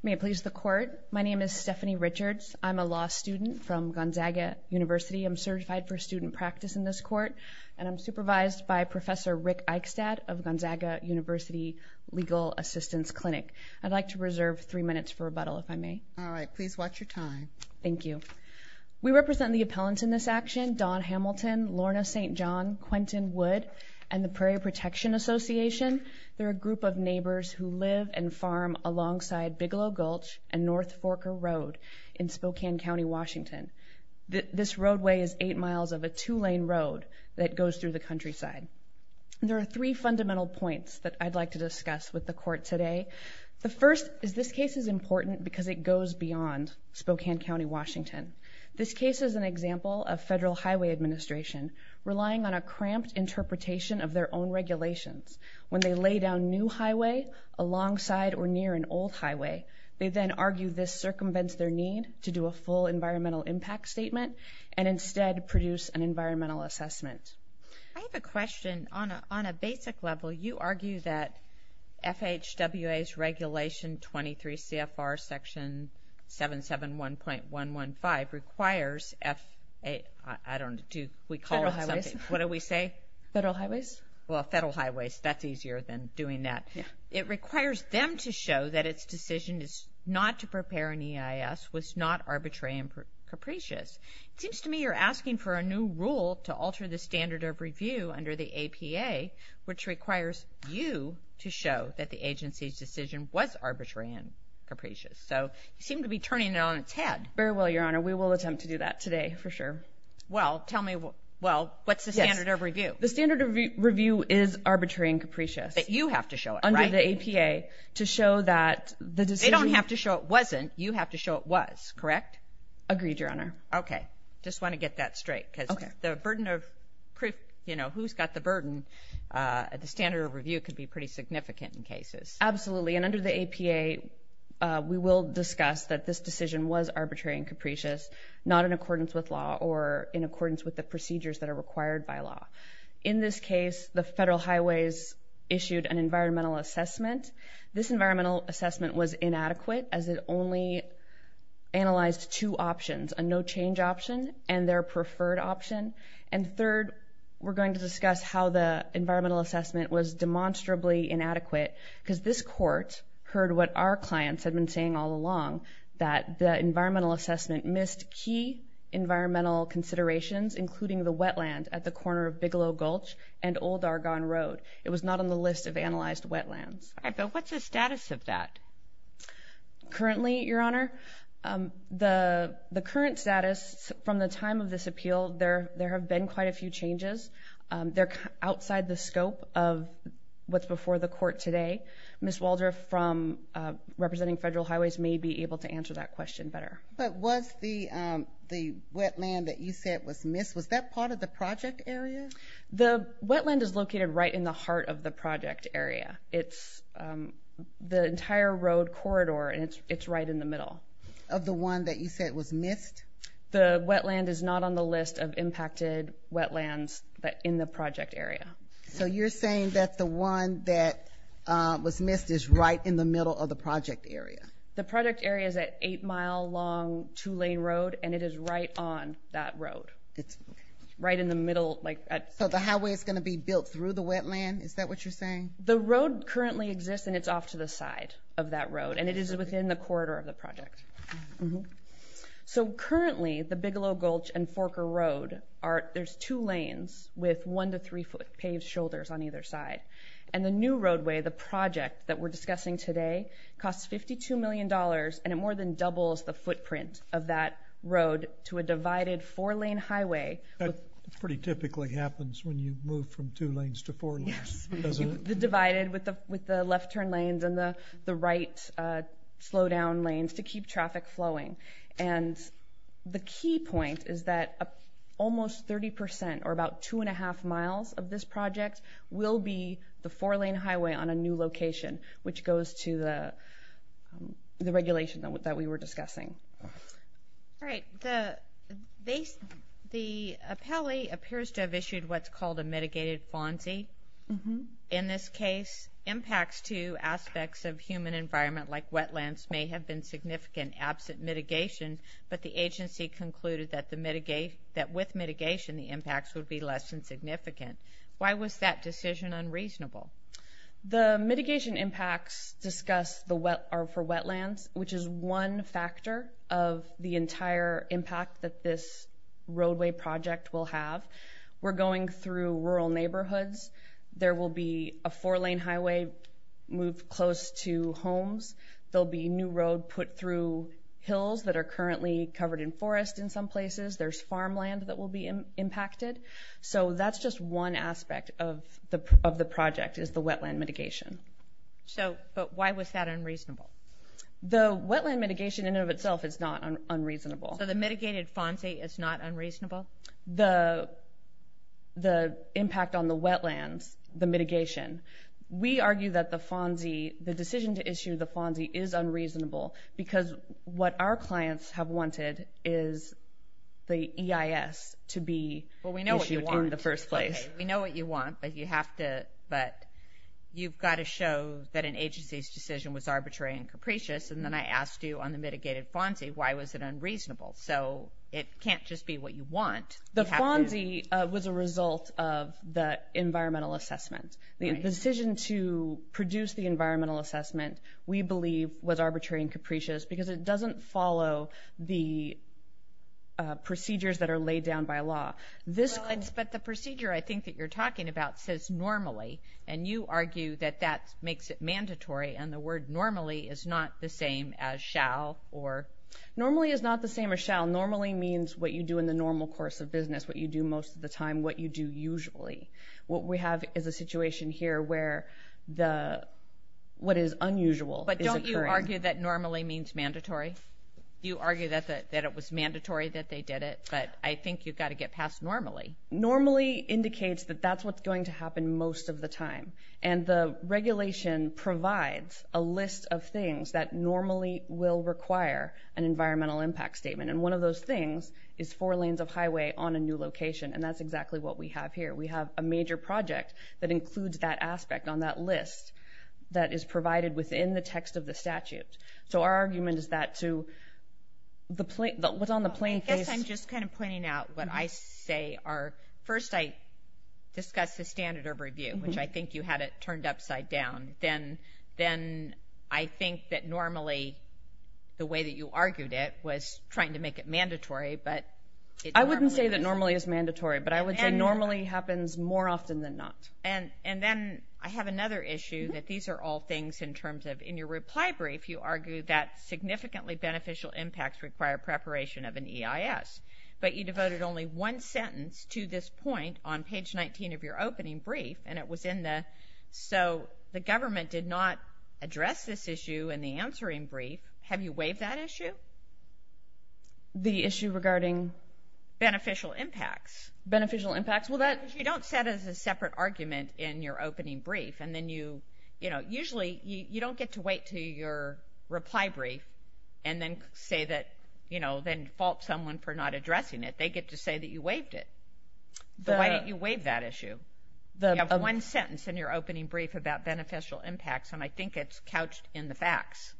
May it please the court. My name is Stephanie Richards. I'm a law student from Gonzaga University. I'm certified for student practice in this court and I'm supervised by Professor Rick Eichstadt of Gonzaga University Legal Assistance Clinic. I'd like to reserve three minutes for rebuttal if I may. All right, please watch your time. Thank you. We represent the appellants in this action, Don Hamilton, Lorna St. John, Quentin Wood, and the Prairie Protection Association. They're a group of neighbors who live and farm alongside Bigelow Gulch and North Forker Road in Spokane County, Washington. This roadway is eight miles of a two-lane road that goes through the countryside. There are three fundamental points that I'd like to discuss with the court today. The first is this case is important because it goes beyond Spokane County, Washington. This case is an example of federal highway administration relying on a cramped interpretation of their own regulations. When they lay down new highway alongside or near an old highway, they then argue this circumvents their need to do a full environmental impact statement and instead produce an environmental assessment. I have a question. On a basic level, you argue that FHWA's regulation 23 CFR section 771.115 requires F, I don't, do we call it something? Federal Highways. What do we say? Federal Highways. Well, Federal Highways, that's easier than doing that. It requires them to show that its decision is not to prepare an EIS was not arbitrary and capricious. It seems to me you're asking for a new rule to alter the standard of review under the APA, which requires you to show that the agency's decision was arbitrary and capricious. So you seem to be Well, tell me, well, what's the standard of review? The standard of review is arbitrary and capricious. That you have to show it. Under the APA to show that the decision. They don't have to show it wasn't, you have to show it was, correct? Agreed, Your Honor. Okay. Just want to get that straight because the burden of proof, you know, who's got the burden at the standard of review could be pretty significant in cases. Absolutely. And in accordance with law or in accordance with the procedures that are required by law. In this case, the Federal Highways issued an environmental assessment. This environmental assessment was inadequate as it only analyzed two options, a no change option and their preferred option. And third, we're going to discuss how the environmental assessment was demonstrably inadequate because this court heard what our clients had been saying all along, that the environmental assessment missed key environmental considerations, including the wetland at the corner of Bigelow Gulch and Old Argonne Road. It was not on the list of analyzed wetlands. What's the status of that? Currently, Your Honor, the current status from the time of this appeal, there have been quite a few changes. They're outside the scope of what's before the court today. Ms. Waldrop from representing Federal Highways may be able to answer that question better. But was the wetland that you said was missed, was that part of the project area? The wetland is located right in the heart of the project area. It's the entire road corridor and it's right in the middle. Of the one that you said was missed? The wetland is not on the list of impacted wetlands in the project area. So you're saying that the one that was missed is right in the middle of the project area? The project area is an eight-mile long two-lane road and it is right on that road. It's right in the middle. So the highway is going to be built through the wetland? Is that what you're saying? The road currently exists and it's off to the side of that road and it is within the corridor of the project. So currently, the Bigelow Gulch and Forker Road, there's two lanes with one to three foot paved shoulders on either side. And the new roadway, the project that we're discussing today, costs $52 million and it more than doubles the footprint of that road to a divided four-lane highway. That pretty typically happens when you move from two lanes to four lanes. Yes, the divided with the left turn lanes and the right slow down lanes to keep traffic flowing. And the key point is that almost 30% or about two and a half miles of this project will be the four-lane highway on a new location, which goes to the regulation that we were discussing. The appellee appears to have issued what's called a mitigated FONSI. In this case, impacts to aspects of human environment like wetlands may have been significant absent mitigation, but the agency concluded that with mitigation, the impacts would be less than significant. Why was that decision unreasonable? The mitigation impacts discussed are for wetlands, which is one factor of the entire impact that this roadway project will have. We're going through rural neighborhoods. There will be a four-lane highway moved close to homes. There'll be new road put through hills that are currently covered in forest in some places. There's farmland that will be impacted. So that's just one aspect of the project is the wetland mitigation. So, but why was that unreasonable? The wetland mitigation in and of itself is not unreasonable. So the mitigated FONSI is not unreasonable? The impact on the wetlands, the mitigation. We argue that the FONSI, the decision to issue the FONSI is unreasonable because what our clients have wanted is the EIS to be issued in the first place. Well, we know what you want, but you have to, but you've got to show that an agency's decision was arbitrary and capricious, and then I asked you on the mitigated FONSI, why was it unreasonable? So it can't just be what you want. The FONSI was a result of the environmental assessment. The decision to produce the environmental assessment we believe was arbitrary and capricious because it doesn't follow the procedures that are laid down by law. But the procedure I think that you're talking about says normally, and you argue that that makes it mandatory, and the word normally is not the same as shall or... Normally is not the same as shall. Normally means what you do in the normal course of business, what you do most of the time, what you do usually. What we have is a situation here where the, what is unusual is occurring. But don't you argue that normally means mandatory? You argue that it was mandatory that they did it, but I think you've got to get past normally. Normally indicates that that's what's going to happen most of the time, and the regulation provides a list of things that normally will require an environmental impact statement, and one of those things is four lanes of highway on a new location, and that's exactly what we have here. We have a major project that includes that aspect on that list that is provided within the text of the statute. So our argument is that to the, what's I guess I'm just kind of pointing out what I say are, first I discuss the standard of review, which I think you had it turned upside down, then I think that normally the way that you argued it was trying to make it mandatory, but... I wouldn't say that normally is mandatory, but I would say normally happens more often than not. And then I have another issue that these are all things in terms of, in your reply brief you argue that significantly beneficial impacts require preparation of an EIS, but you devoted only one sentence to this point on page 19 of your opening brief, and it was in the, so the government did not address this issue in the answering brief. Have you waived that issue? The issue regarding? Beneficial impacts. Beneficial impacts, well that... You don't set as a separate argument in your opening brief, and then you, you know, usually you don't get to wait to your reply brief, and then say that, you know, then fault someone for not addressing it. They get to say that you waived it. So why don't you waive that issue? You have one sentence in your opening brief about beneficial impacts, and I think it's couched in the facts.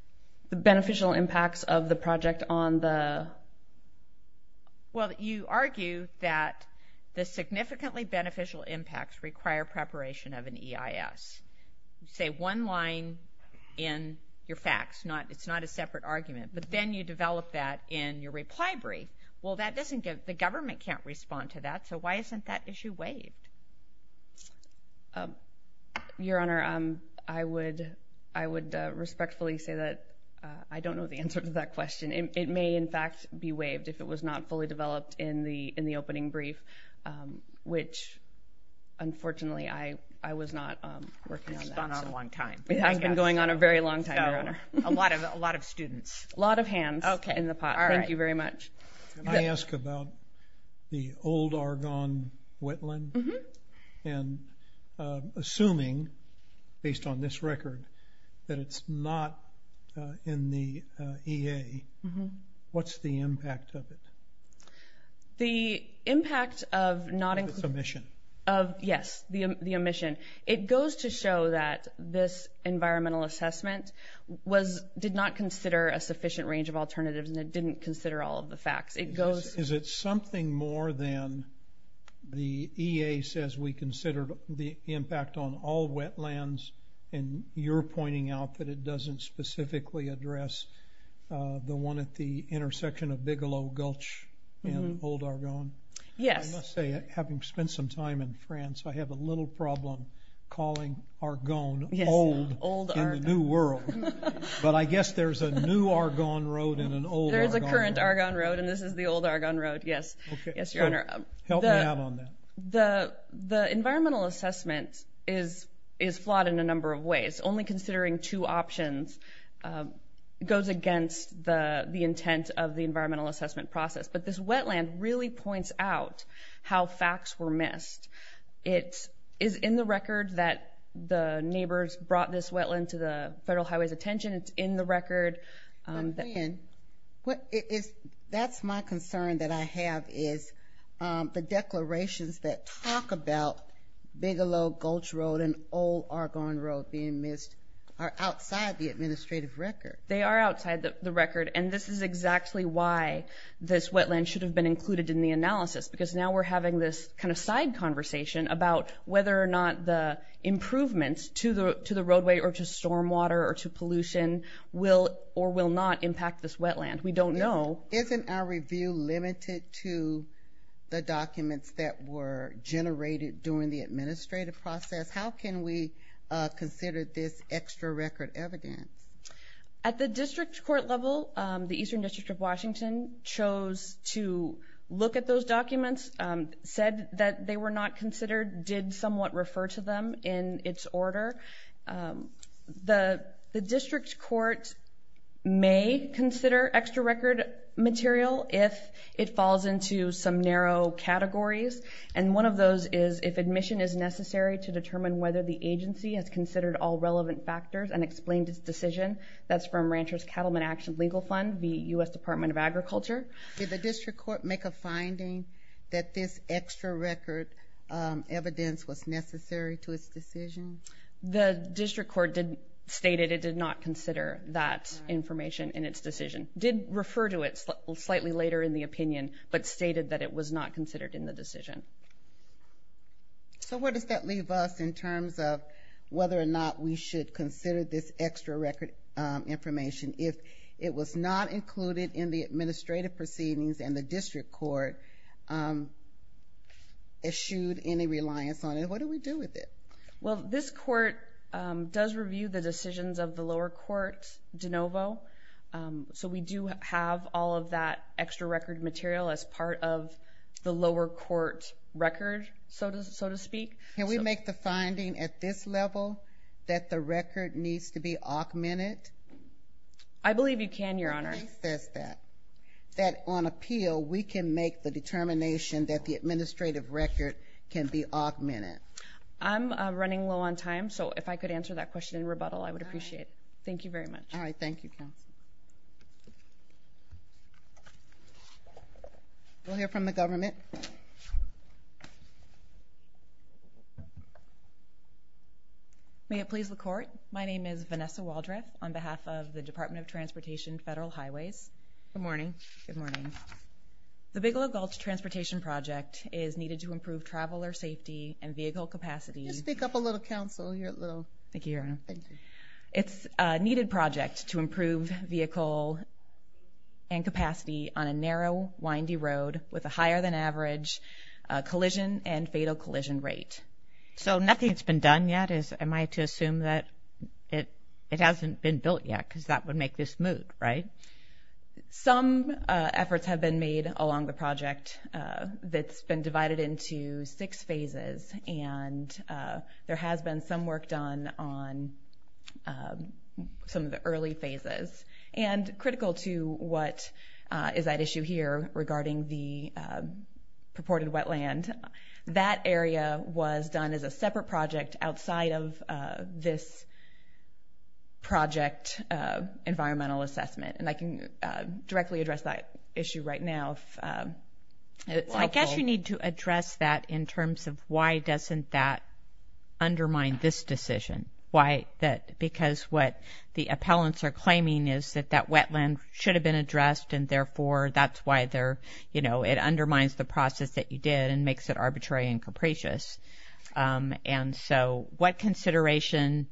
The beneficial impacts of the project on the... Well, you argue that the significantly beneficial impacts require preparation of an EIS. Say one line in your facts, not, it's not a separate argument, but then you develop that in your reply brief. Well, that doesn't give, the government can't respond to that, so why isn't that issue waived? Your Honor, I would, I would respectfully say that I don't know the answer to that question. It may, in fact, be waived if it was not fully developed in the, in the opening brief, which, unfortunately, I, I was not working on that. It's gone on a long time. It has been going on a very long time, Your Honor. A lot of, a lot of students. A lot of hands in the pot. Okay, all right. Thank you very much. Can I ask about the old Argonne wetland? Mm-hmm. And assuming, based on this record, that it's not in the EA, what's the impact of it? The impact of not including... It's omission. Of, yes, the omission. It goes to show that this environmental assessment was, did not consider a sufficient range of alternatives, and it didn't consider all of the facts. It goes... Is it something more than the EA says we considered the impact on all wetlands, and you're pointing out that it doesn't specifically address the one at the intersection of Bigelow Gulch and Old Argonne? Yes. I must say, having spent some time in France, I have a little problem calling Argonne old in the new world, but I guess there's a new Argonne Road and an old Argonne Road. There's a current Argonne Road, and this is the old Argonne Road. Yes, yes, Your Honor. Help me out on that. The, the environmental assessment is flawed in a number of ways. Only considering two options goes against the intent of the environmental assessment process, but this wetland really points out how facts were missed. It is in the record that the neighbors brought this wetland to the Federal Highway's attention. It's in the record. That's my concern that I have is the declarations that talk about Bigelow Gulch Road and Old Argonne Road being missed are outside the administrative record. They are outside the record, and this is exactly why this wetland should have been included in the analysis, because now we're having this kind of side conversation about whether or not the improvements to the, to the roadway or to stormwater or to pollution will or will not impact this wetland. We don't know. Isn't our review limited to the documents that were generated during the administrative process? How can we consider this extra record evidence? At the district court level, the Eastern District of Washington chose to look at those documents, said that they were not considered, did somewhat refer to them in its order. The, the district court may consider extra record material if it falls into some narrow categories, and one of those is if admission is necessary to determine whether the agency has considered all relevant factors and explained its decision. That's from Ranchers Cattlemen Action Legal Fund, the U.S. Department of Agriculture. Did the district court make a finding that this extra record evidence was necessary to its decision? The district court did stated it did not consider that information in its decision, did refer to it slightly later in the opinion, but stated that it was not considered in the decision. So where does that leave us in terms of whether or not we should consider this extra record information if it was not included in the administrative proceedings and the district court issued any reliance on it? What do we do with it? Well, this court does review the decisions of the lower court de novo, so we do have all of that extra record material as part of the lower court record, so to speak. Can we make the finding at this level that the record needs to be augmented? I believe you can, Your Honor. The case says that. That on appeal, we can make the determination that the administrative record can be augmented. I'm running low on time, so if I could answer that question in rebuttal, I would appreciate it. Thank you very much. All right, thank you, counsel. We'll hear from the government. May it please the court, my name is Vanessa Waldreth on behalf of the Department of Transportation Federal Highways. Good morning. Good morning. The Bigelow Gulch Transportation Project is needed to improve traveler safety and vehicle capacity. Just speak up a little, counsel, you're a little. Thank you, Your Honor. Thank you. It's a needed project to improve vehicle and capacity on a collision and fatal collision rate. So nothing's been done yet, am I to assume that it hasn't been built yet, because that would make this move, right? Some efforts have been made along the project that's been divided into six phases, and there has been some work done on some of the early phases, and critical to what is at issue here regarding the purported wetland. That area was done as a separate project outside of this project environmental assessment, and I can directly address that issue right now. I guess you need to address that in terms of why doesn't that undermine this decision, because what the appellants are claiming is that that wetland should have been addressed, and therefore that's why it undermines the process that you did and makes it arbitrary and capricious. So what consideration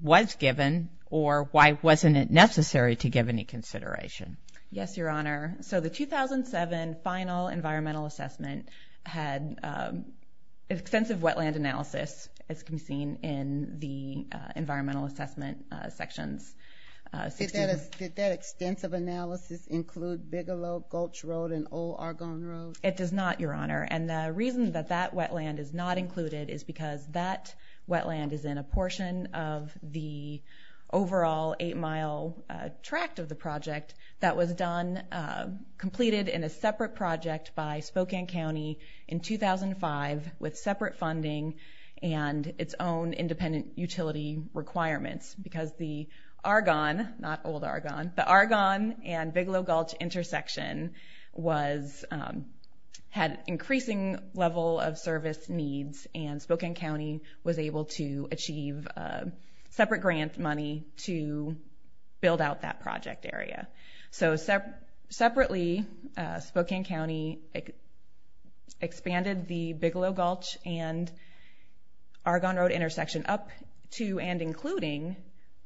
was given, or why wasn't it necessary to give any consideration? Yes, Your Honor. So the 2007 final environmental assessment had extensive wetland analysis, as can be seen in the environmental assessment sections. Did that extensive analysis include Bigelow, Gulch Road, and Old Argonne Road? It does not, Your Honor, and the reason that that wetland is not included is because that wetland is in a portion of the overall eight-mile tract of the project that was completed in a separate project by Spokane County in 2005 with separate funding and its own independent utility requirements, because the Argonne, not Old Argonne, the Argonne and Bigelow-Gulch intersection had increasing level of service needs and Spokane County was able to achieve separate grant money to build out that project area. So separately, Spokane County expanded the Bigelow-Gulch and including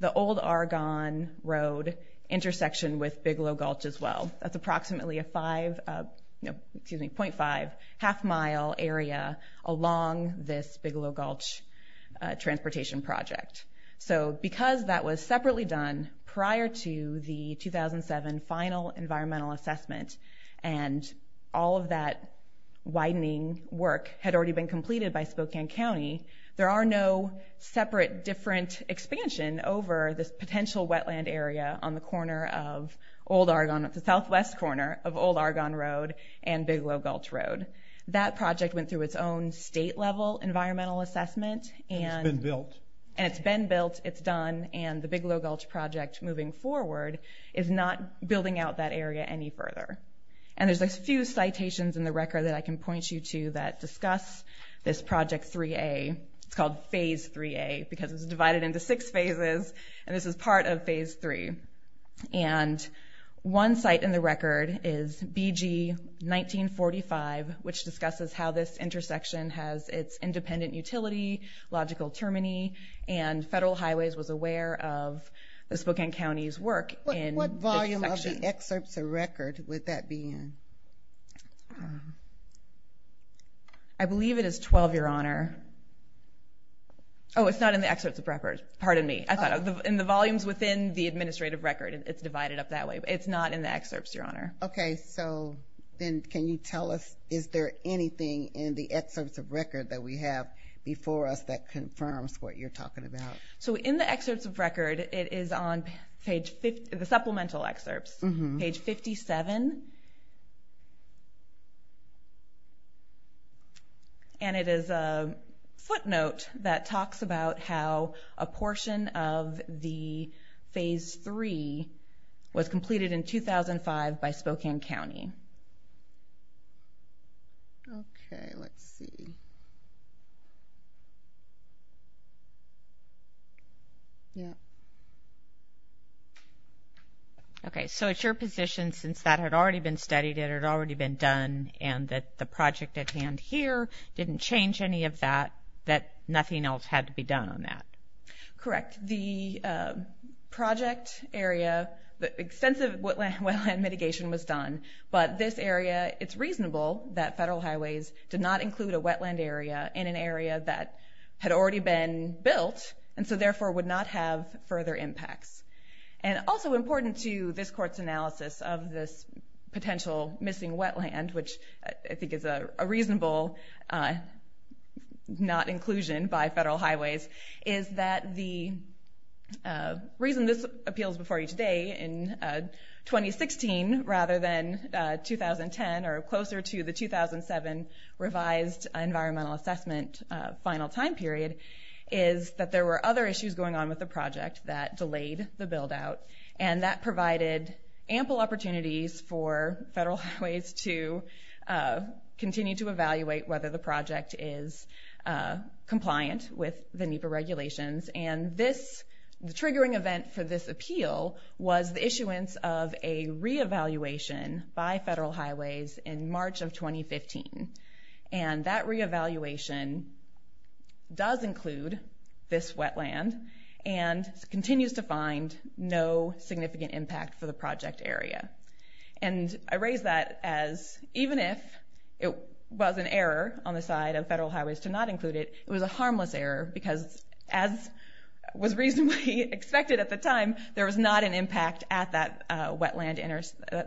the Old Argonne Road intersection with Bigelow-Gulch as well. That's approximately a 0.5 half-mile area along this Bigelow-Gulch transportation project. So because that was separately done prior to the 2007 final environmental assessment and all of that expansion over this potential wetland area on the southwest corner of Old Argonne Road and Bigelow-Gulch Road, that project went through its own state-level environmental assessment, and it's been built, it's done, and the Bigelow-Gulch project moving forward is not building out that area any further. And there's a few citations in the record that I can point you to that discuss this Project 3A. It's called Phase 3A because it's divided into six phases and this is part of Phase 3. And one site in the record is BG 1945, which discusses how this intersection has its independent utility, logical termini, and Federal Highways was aware of the Spokane I believe it is 12, Your Honor. Oh, it's not in the excerpts of record. Pardon me. I thought in the volumes within the administrative record it's divided up that way, but it's not in the excerpts, Your Honor. Okay, so then can you tell us is there anything in the excerpts of record that we have before us that confirms what you're talking about? So in the excerpts of record, it is on page 50, the supplemental excerpts, page 57. And it is a footnote that talks about how a portion of the Phase 3 was completed in 2005 by Spokane County. Okay, let's see. Yeah. Okay, so it's your position since that had already been studied, it had already been done, and that the project at hand here didn't change any of that, that nothing else had to be done on Correct. The project area, the extensive wetland mitigation was done, but this area, it's reasonable that Federal Highways did not include a wetland area in an area that had already been built, and so therefore would not have further impacts. And also important to this Court's analysis of this potential missing wetland, which I think is a reasonable not inclusion by Federal Highways, is that the reason this appeals before you today in 2016 rather than 2010 or closer to the 2007 revised environmental assessment final time period is that there were other issues going on with the project that delayed the buildout, and that provided ample opportunities for Federal Highways to continue to evaluate whether the project is compliant with the NEPA regulations. And this, the triggering event for this appeal was the issuance of a re-evaluation by Federal Highways in March of 2015. And that re-evaluation does include this wetland and continues to find no significant impact for the project area. And I raise that as even if it was an error on the side of Federal Highways to not include it, it was a harmless error because as was reasonably expected at the time, there was not an impact at that wetland,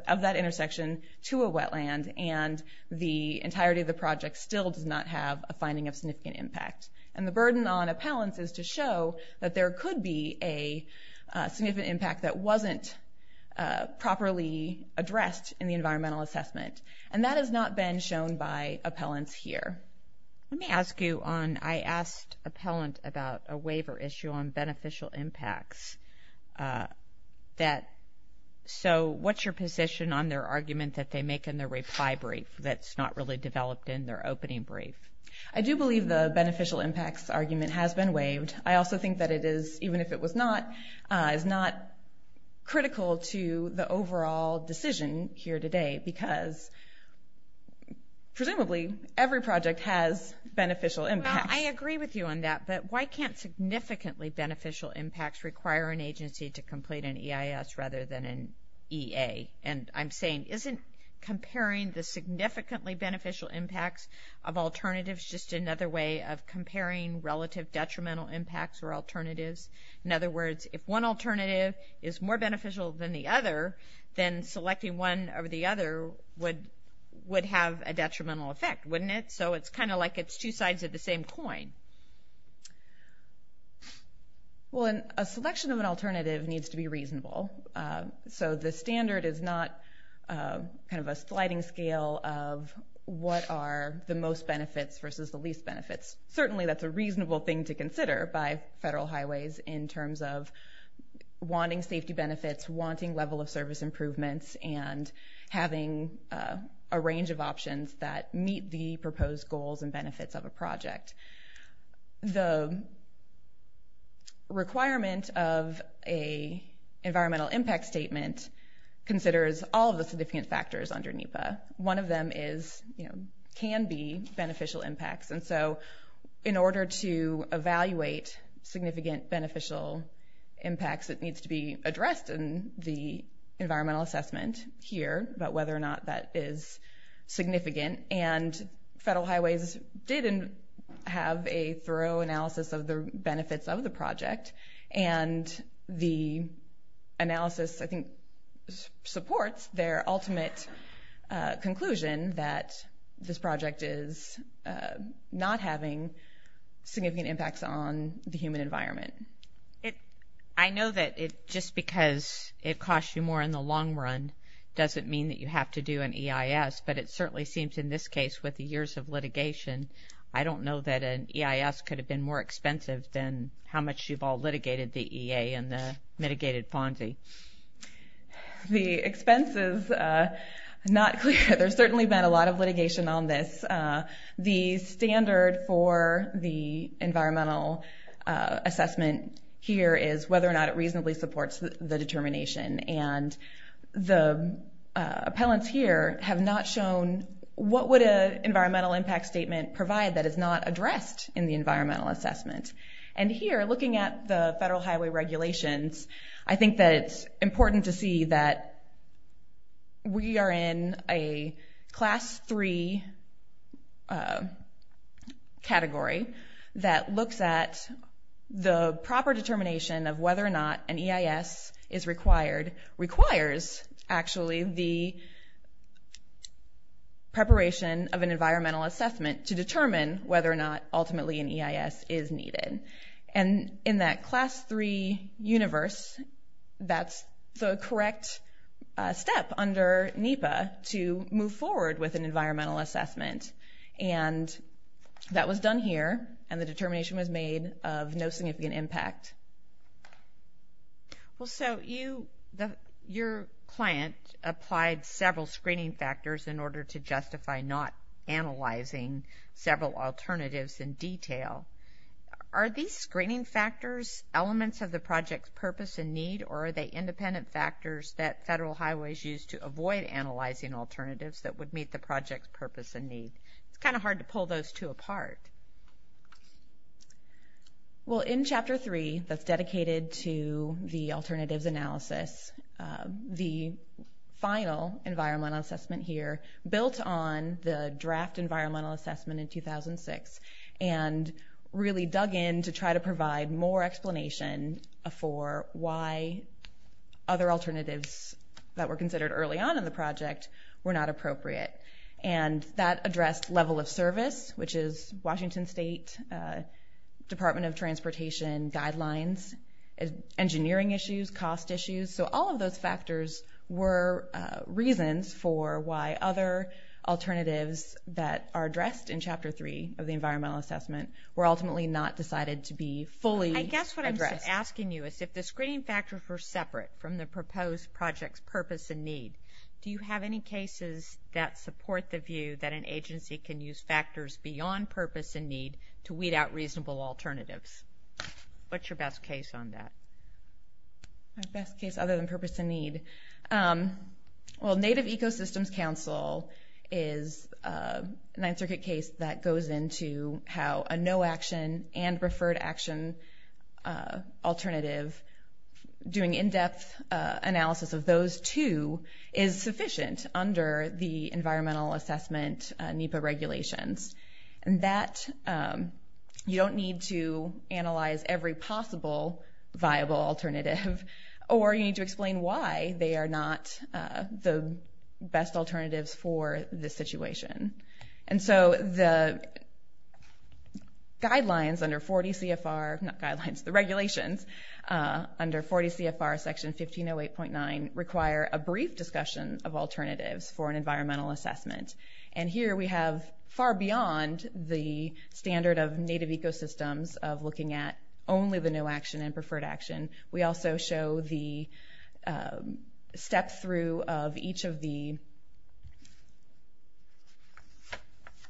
of that intersection to a wetland, and the entirety of the project still does not have a finding of significant impact. And the burden on appellants is to show that there could be a significant impact that wasn't properly addressed in the environmental assessment. And that has not been shown by appellants here. Let me ask you on, I asked appellant about a waiver issue on beneficial impacts that, so what's your position on their argument that they make in their reply brief that's not really developed in their opening brief? I do believe the beneficial impacts argument has been waived. I also think that it is, even if it was not, is not critical to the overall decision here today because presumably every project has beneficial impacts. I agree with you on that, but why can't significantly beneficial impacts require an alternative? Is comparing the significantly beneficial impacts of alternatives just another way of comparing relative detrimental impacts or alternatives? In other words, if one alternative is more beneficial than the other, then selecting one over the other would have a detrimental effect, wouldn't it? So it's kind of like it's two sides of the same coin. Well, a selection of an alternative needs to be reasonable. So the standard is not kind of a sliding scale of what are the most benefits versus the least benefits. Certainly that's a reasonable thing to consider by Federal Highways in terms of wanting safety benefits, wanting level of service improvements, and having a range of options that meet the proposed goals and benefits of a project. The requirement of a environmental impact statement considers all the significant factors under NEPA. One of them can be beneficial impacts. And so in order to evaluate significant beneficial impacts, it needs to be addressed in the environmental assessment here about whether or not that is significant. And Federal Highways did have a thorough analysis of the benefits of the project. And the analysis, I think, supports their ultimate conclusion that this project is not having significant impacts on the human environment. I know that it just because it costs you more in the long run doesn't mean that you have to do an EIS, but it certainly seems in this case with the years of I don't know that an EIS could have been more expensive than how much you've all litigated the EA and the mitigated Ponzi. The expense is not clear. There's certainly been a lot of litigation on this. The standard for the environmental assessment here is whether or not it reasonably supports the determination. And the appellants here have not shown what would an environmental impact statement provide that is not addressed in the environmental assessment. And here, looking at the Federal Highway regulations, I think that it's important to see that we are in a class three category that looks at the proper determination of whether or not an EIS is required. It requires, actually, the preparation of an environmental assessment to determine whether or not ultimately an EIS is needed. And in that class three universe, that's the correct step under NEPA to move forward with an environmental assessment. And that was done here and the determination was made of no significant impact. Well, so you, your client applied several screening factors in order to justify not analyzing several alternatives in detail. Are these screening factors elements of the project's purpose and need or are they independent factors that Federal Highways use to avoid analyzing alternatives that would meet the project's purpose and need? It's kind of hard to pull those two apart. Well, in chapter three, that's dedicated to the alternatives analysis, the final environmental assessment here built on the draft environmental assessment in 2006 and really dug in to try to provide more explanation for why other alternatives that were considered early on in the project were not appropriate. And that addressed level of service, which is Washington State Department of Transportation guidelines, engineering issues, cost issues. So all of those factors were reasons for why other alternatives that are addressed in chapter three of the environmental assessment were ultimately not decided to be fully addressed. I guess what I'm asking you is if the screening cases that support the view that an agency can use factors beyond purpose and need to weed out reasonable alternatives, what's your best case on that? My best case other than purpose and need? Well, Native Ecosystems Council is a Ninth Circuit case that goes into how a no action and referred action alternative doing in-depth analysis of those two is sufficient under the environmental assessment NEPA regulations. And that you don't need to analyze every possible viable alternative or you need to explain why they are not the best alternatives for the situation. And so the regulations under 40 CFR section 1508.9 require a brief discussion of alternatives for an environmental assessment. And here we have far beyond the standard of Native Ecosystems of looking at only the no action and preferred action. We also show the step through of each of the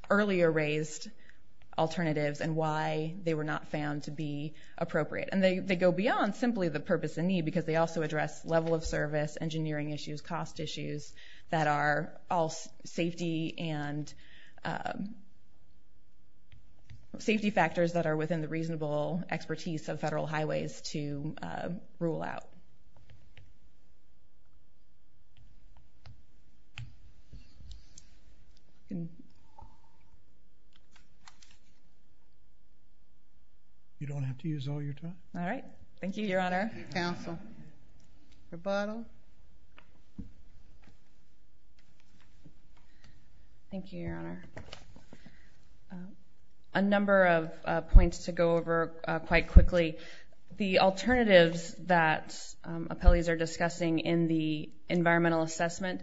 earlier raised alternatives and why they were not found to be appropriate. And they go beyond simply the purpose and need because they also address level of service, engineering issues, cost issues that are all safety and safety factors that are within the reasonable expertise of the NEPA. You don't have to use all your time. All right. Thank you, Your Honor. Council. Rebuttal. Thank you, Your Honor. A number of points to go over quite quickly. The alternatives that appellees are discussing in the environmental assessment,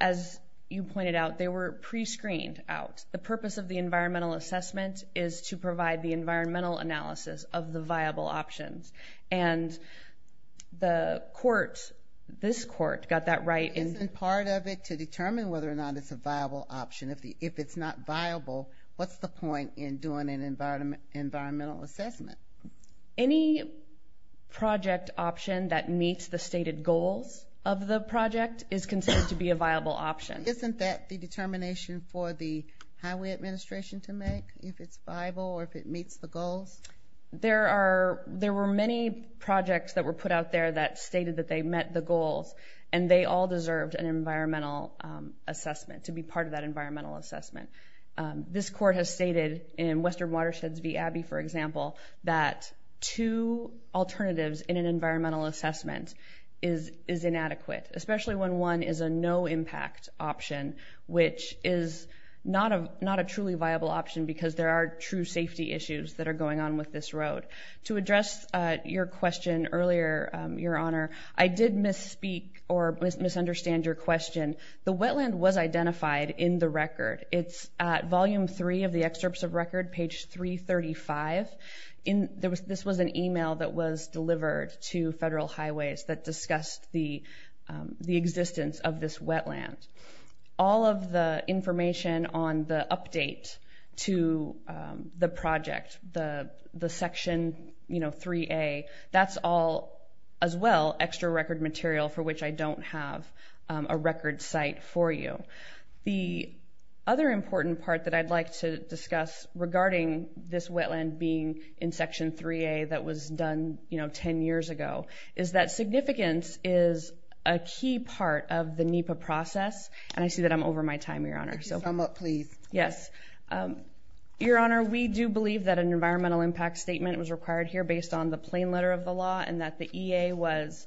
as you pointed out, they were pre-screened out. The purpose of the environmental assessment is to provide the environmental analysis of the viable options. And the court, this court, got that right. Isn't part of it to determine whether or not it's a viable option? If it's not viable, what's the point in doing an environmental assessment? Any project option that meets the stated goals of the project is considered to be a viable option. Isn't that the determination for the highway administration to make? If it's viable or if it meets the goals? There are, there were many projects that were put out there that stated that they met the goals and they all deserved an environmental assessment, to be part of that environmental assessment. This court has stated in Western Watersheds v. Abbey, for example, that two alternatives in an environmental assessment is inadequate, especially when one is a no-impact option, which is not a truly viable option because there are true safety issues that are going on with this road. To address your question earlier, Your Honor, I did misspeak or misunderstand your question. The wetland was identified in the record. It's at volume three of the excerpts of record, page 335. This was an email that was delivered to Federal Highways that discussed the existence of this wetland. All of the information on the update to the project, the section 3A, that's all, as well, extra record material for which I don't have a record site for you. The other important part that I'd like to discuss regarding this wetland being in section 3A that was done, you know, 10 years ago, is that significance is a key part of the NEPA process. And I see that I'm over my time, Your Honor. Sum up, please. Yes. Your Honor, we do believe that an environmental impact statement was required here based on the plain letter of the law and that the EA was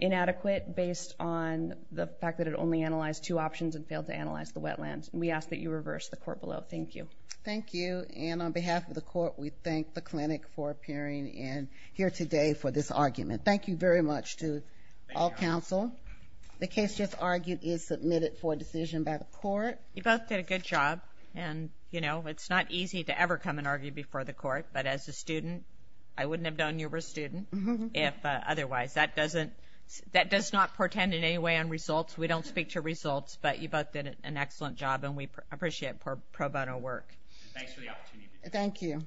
inadequate based on the fact that it only analyzed two options and failed to analyze the wetlands. And we ask that you reverse the court below. Thank you. Thank you. And on behalf of the court, we thank the clinic for appearing in here today for this argument. Thank you very much to all counsel. The case just argued is submitted for decision by the court. You both did a good job. And, you know, it's not easy to ever come and argue before the court. But as a if otherwise, that doesn't that does not portend in any way on results. We don't speak to results, but you both did an excellent job and we appreciate pro bono work. Thanks for the opportunity. Thank you.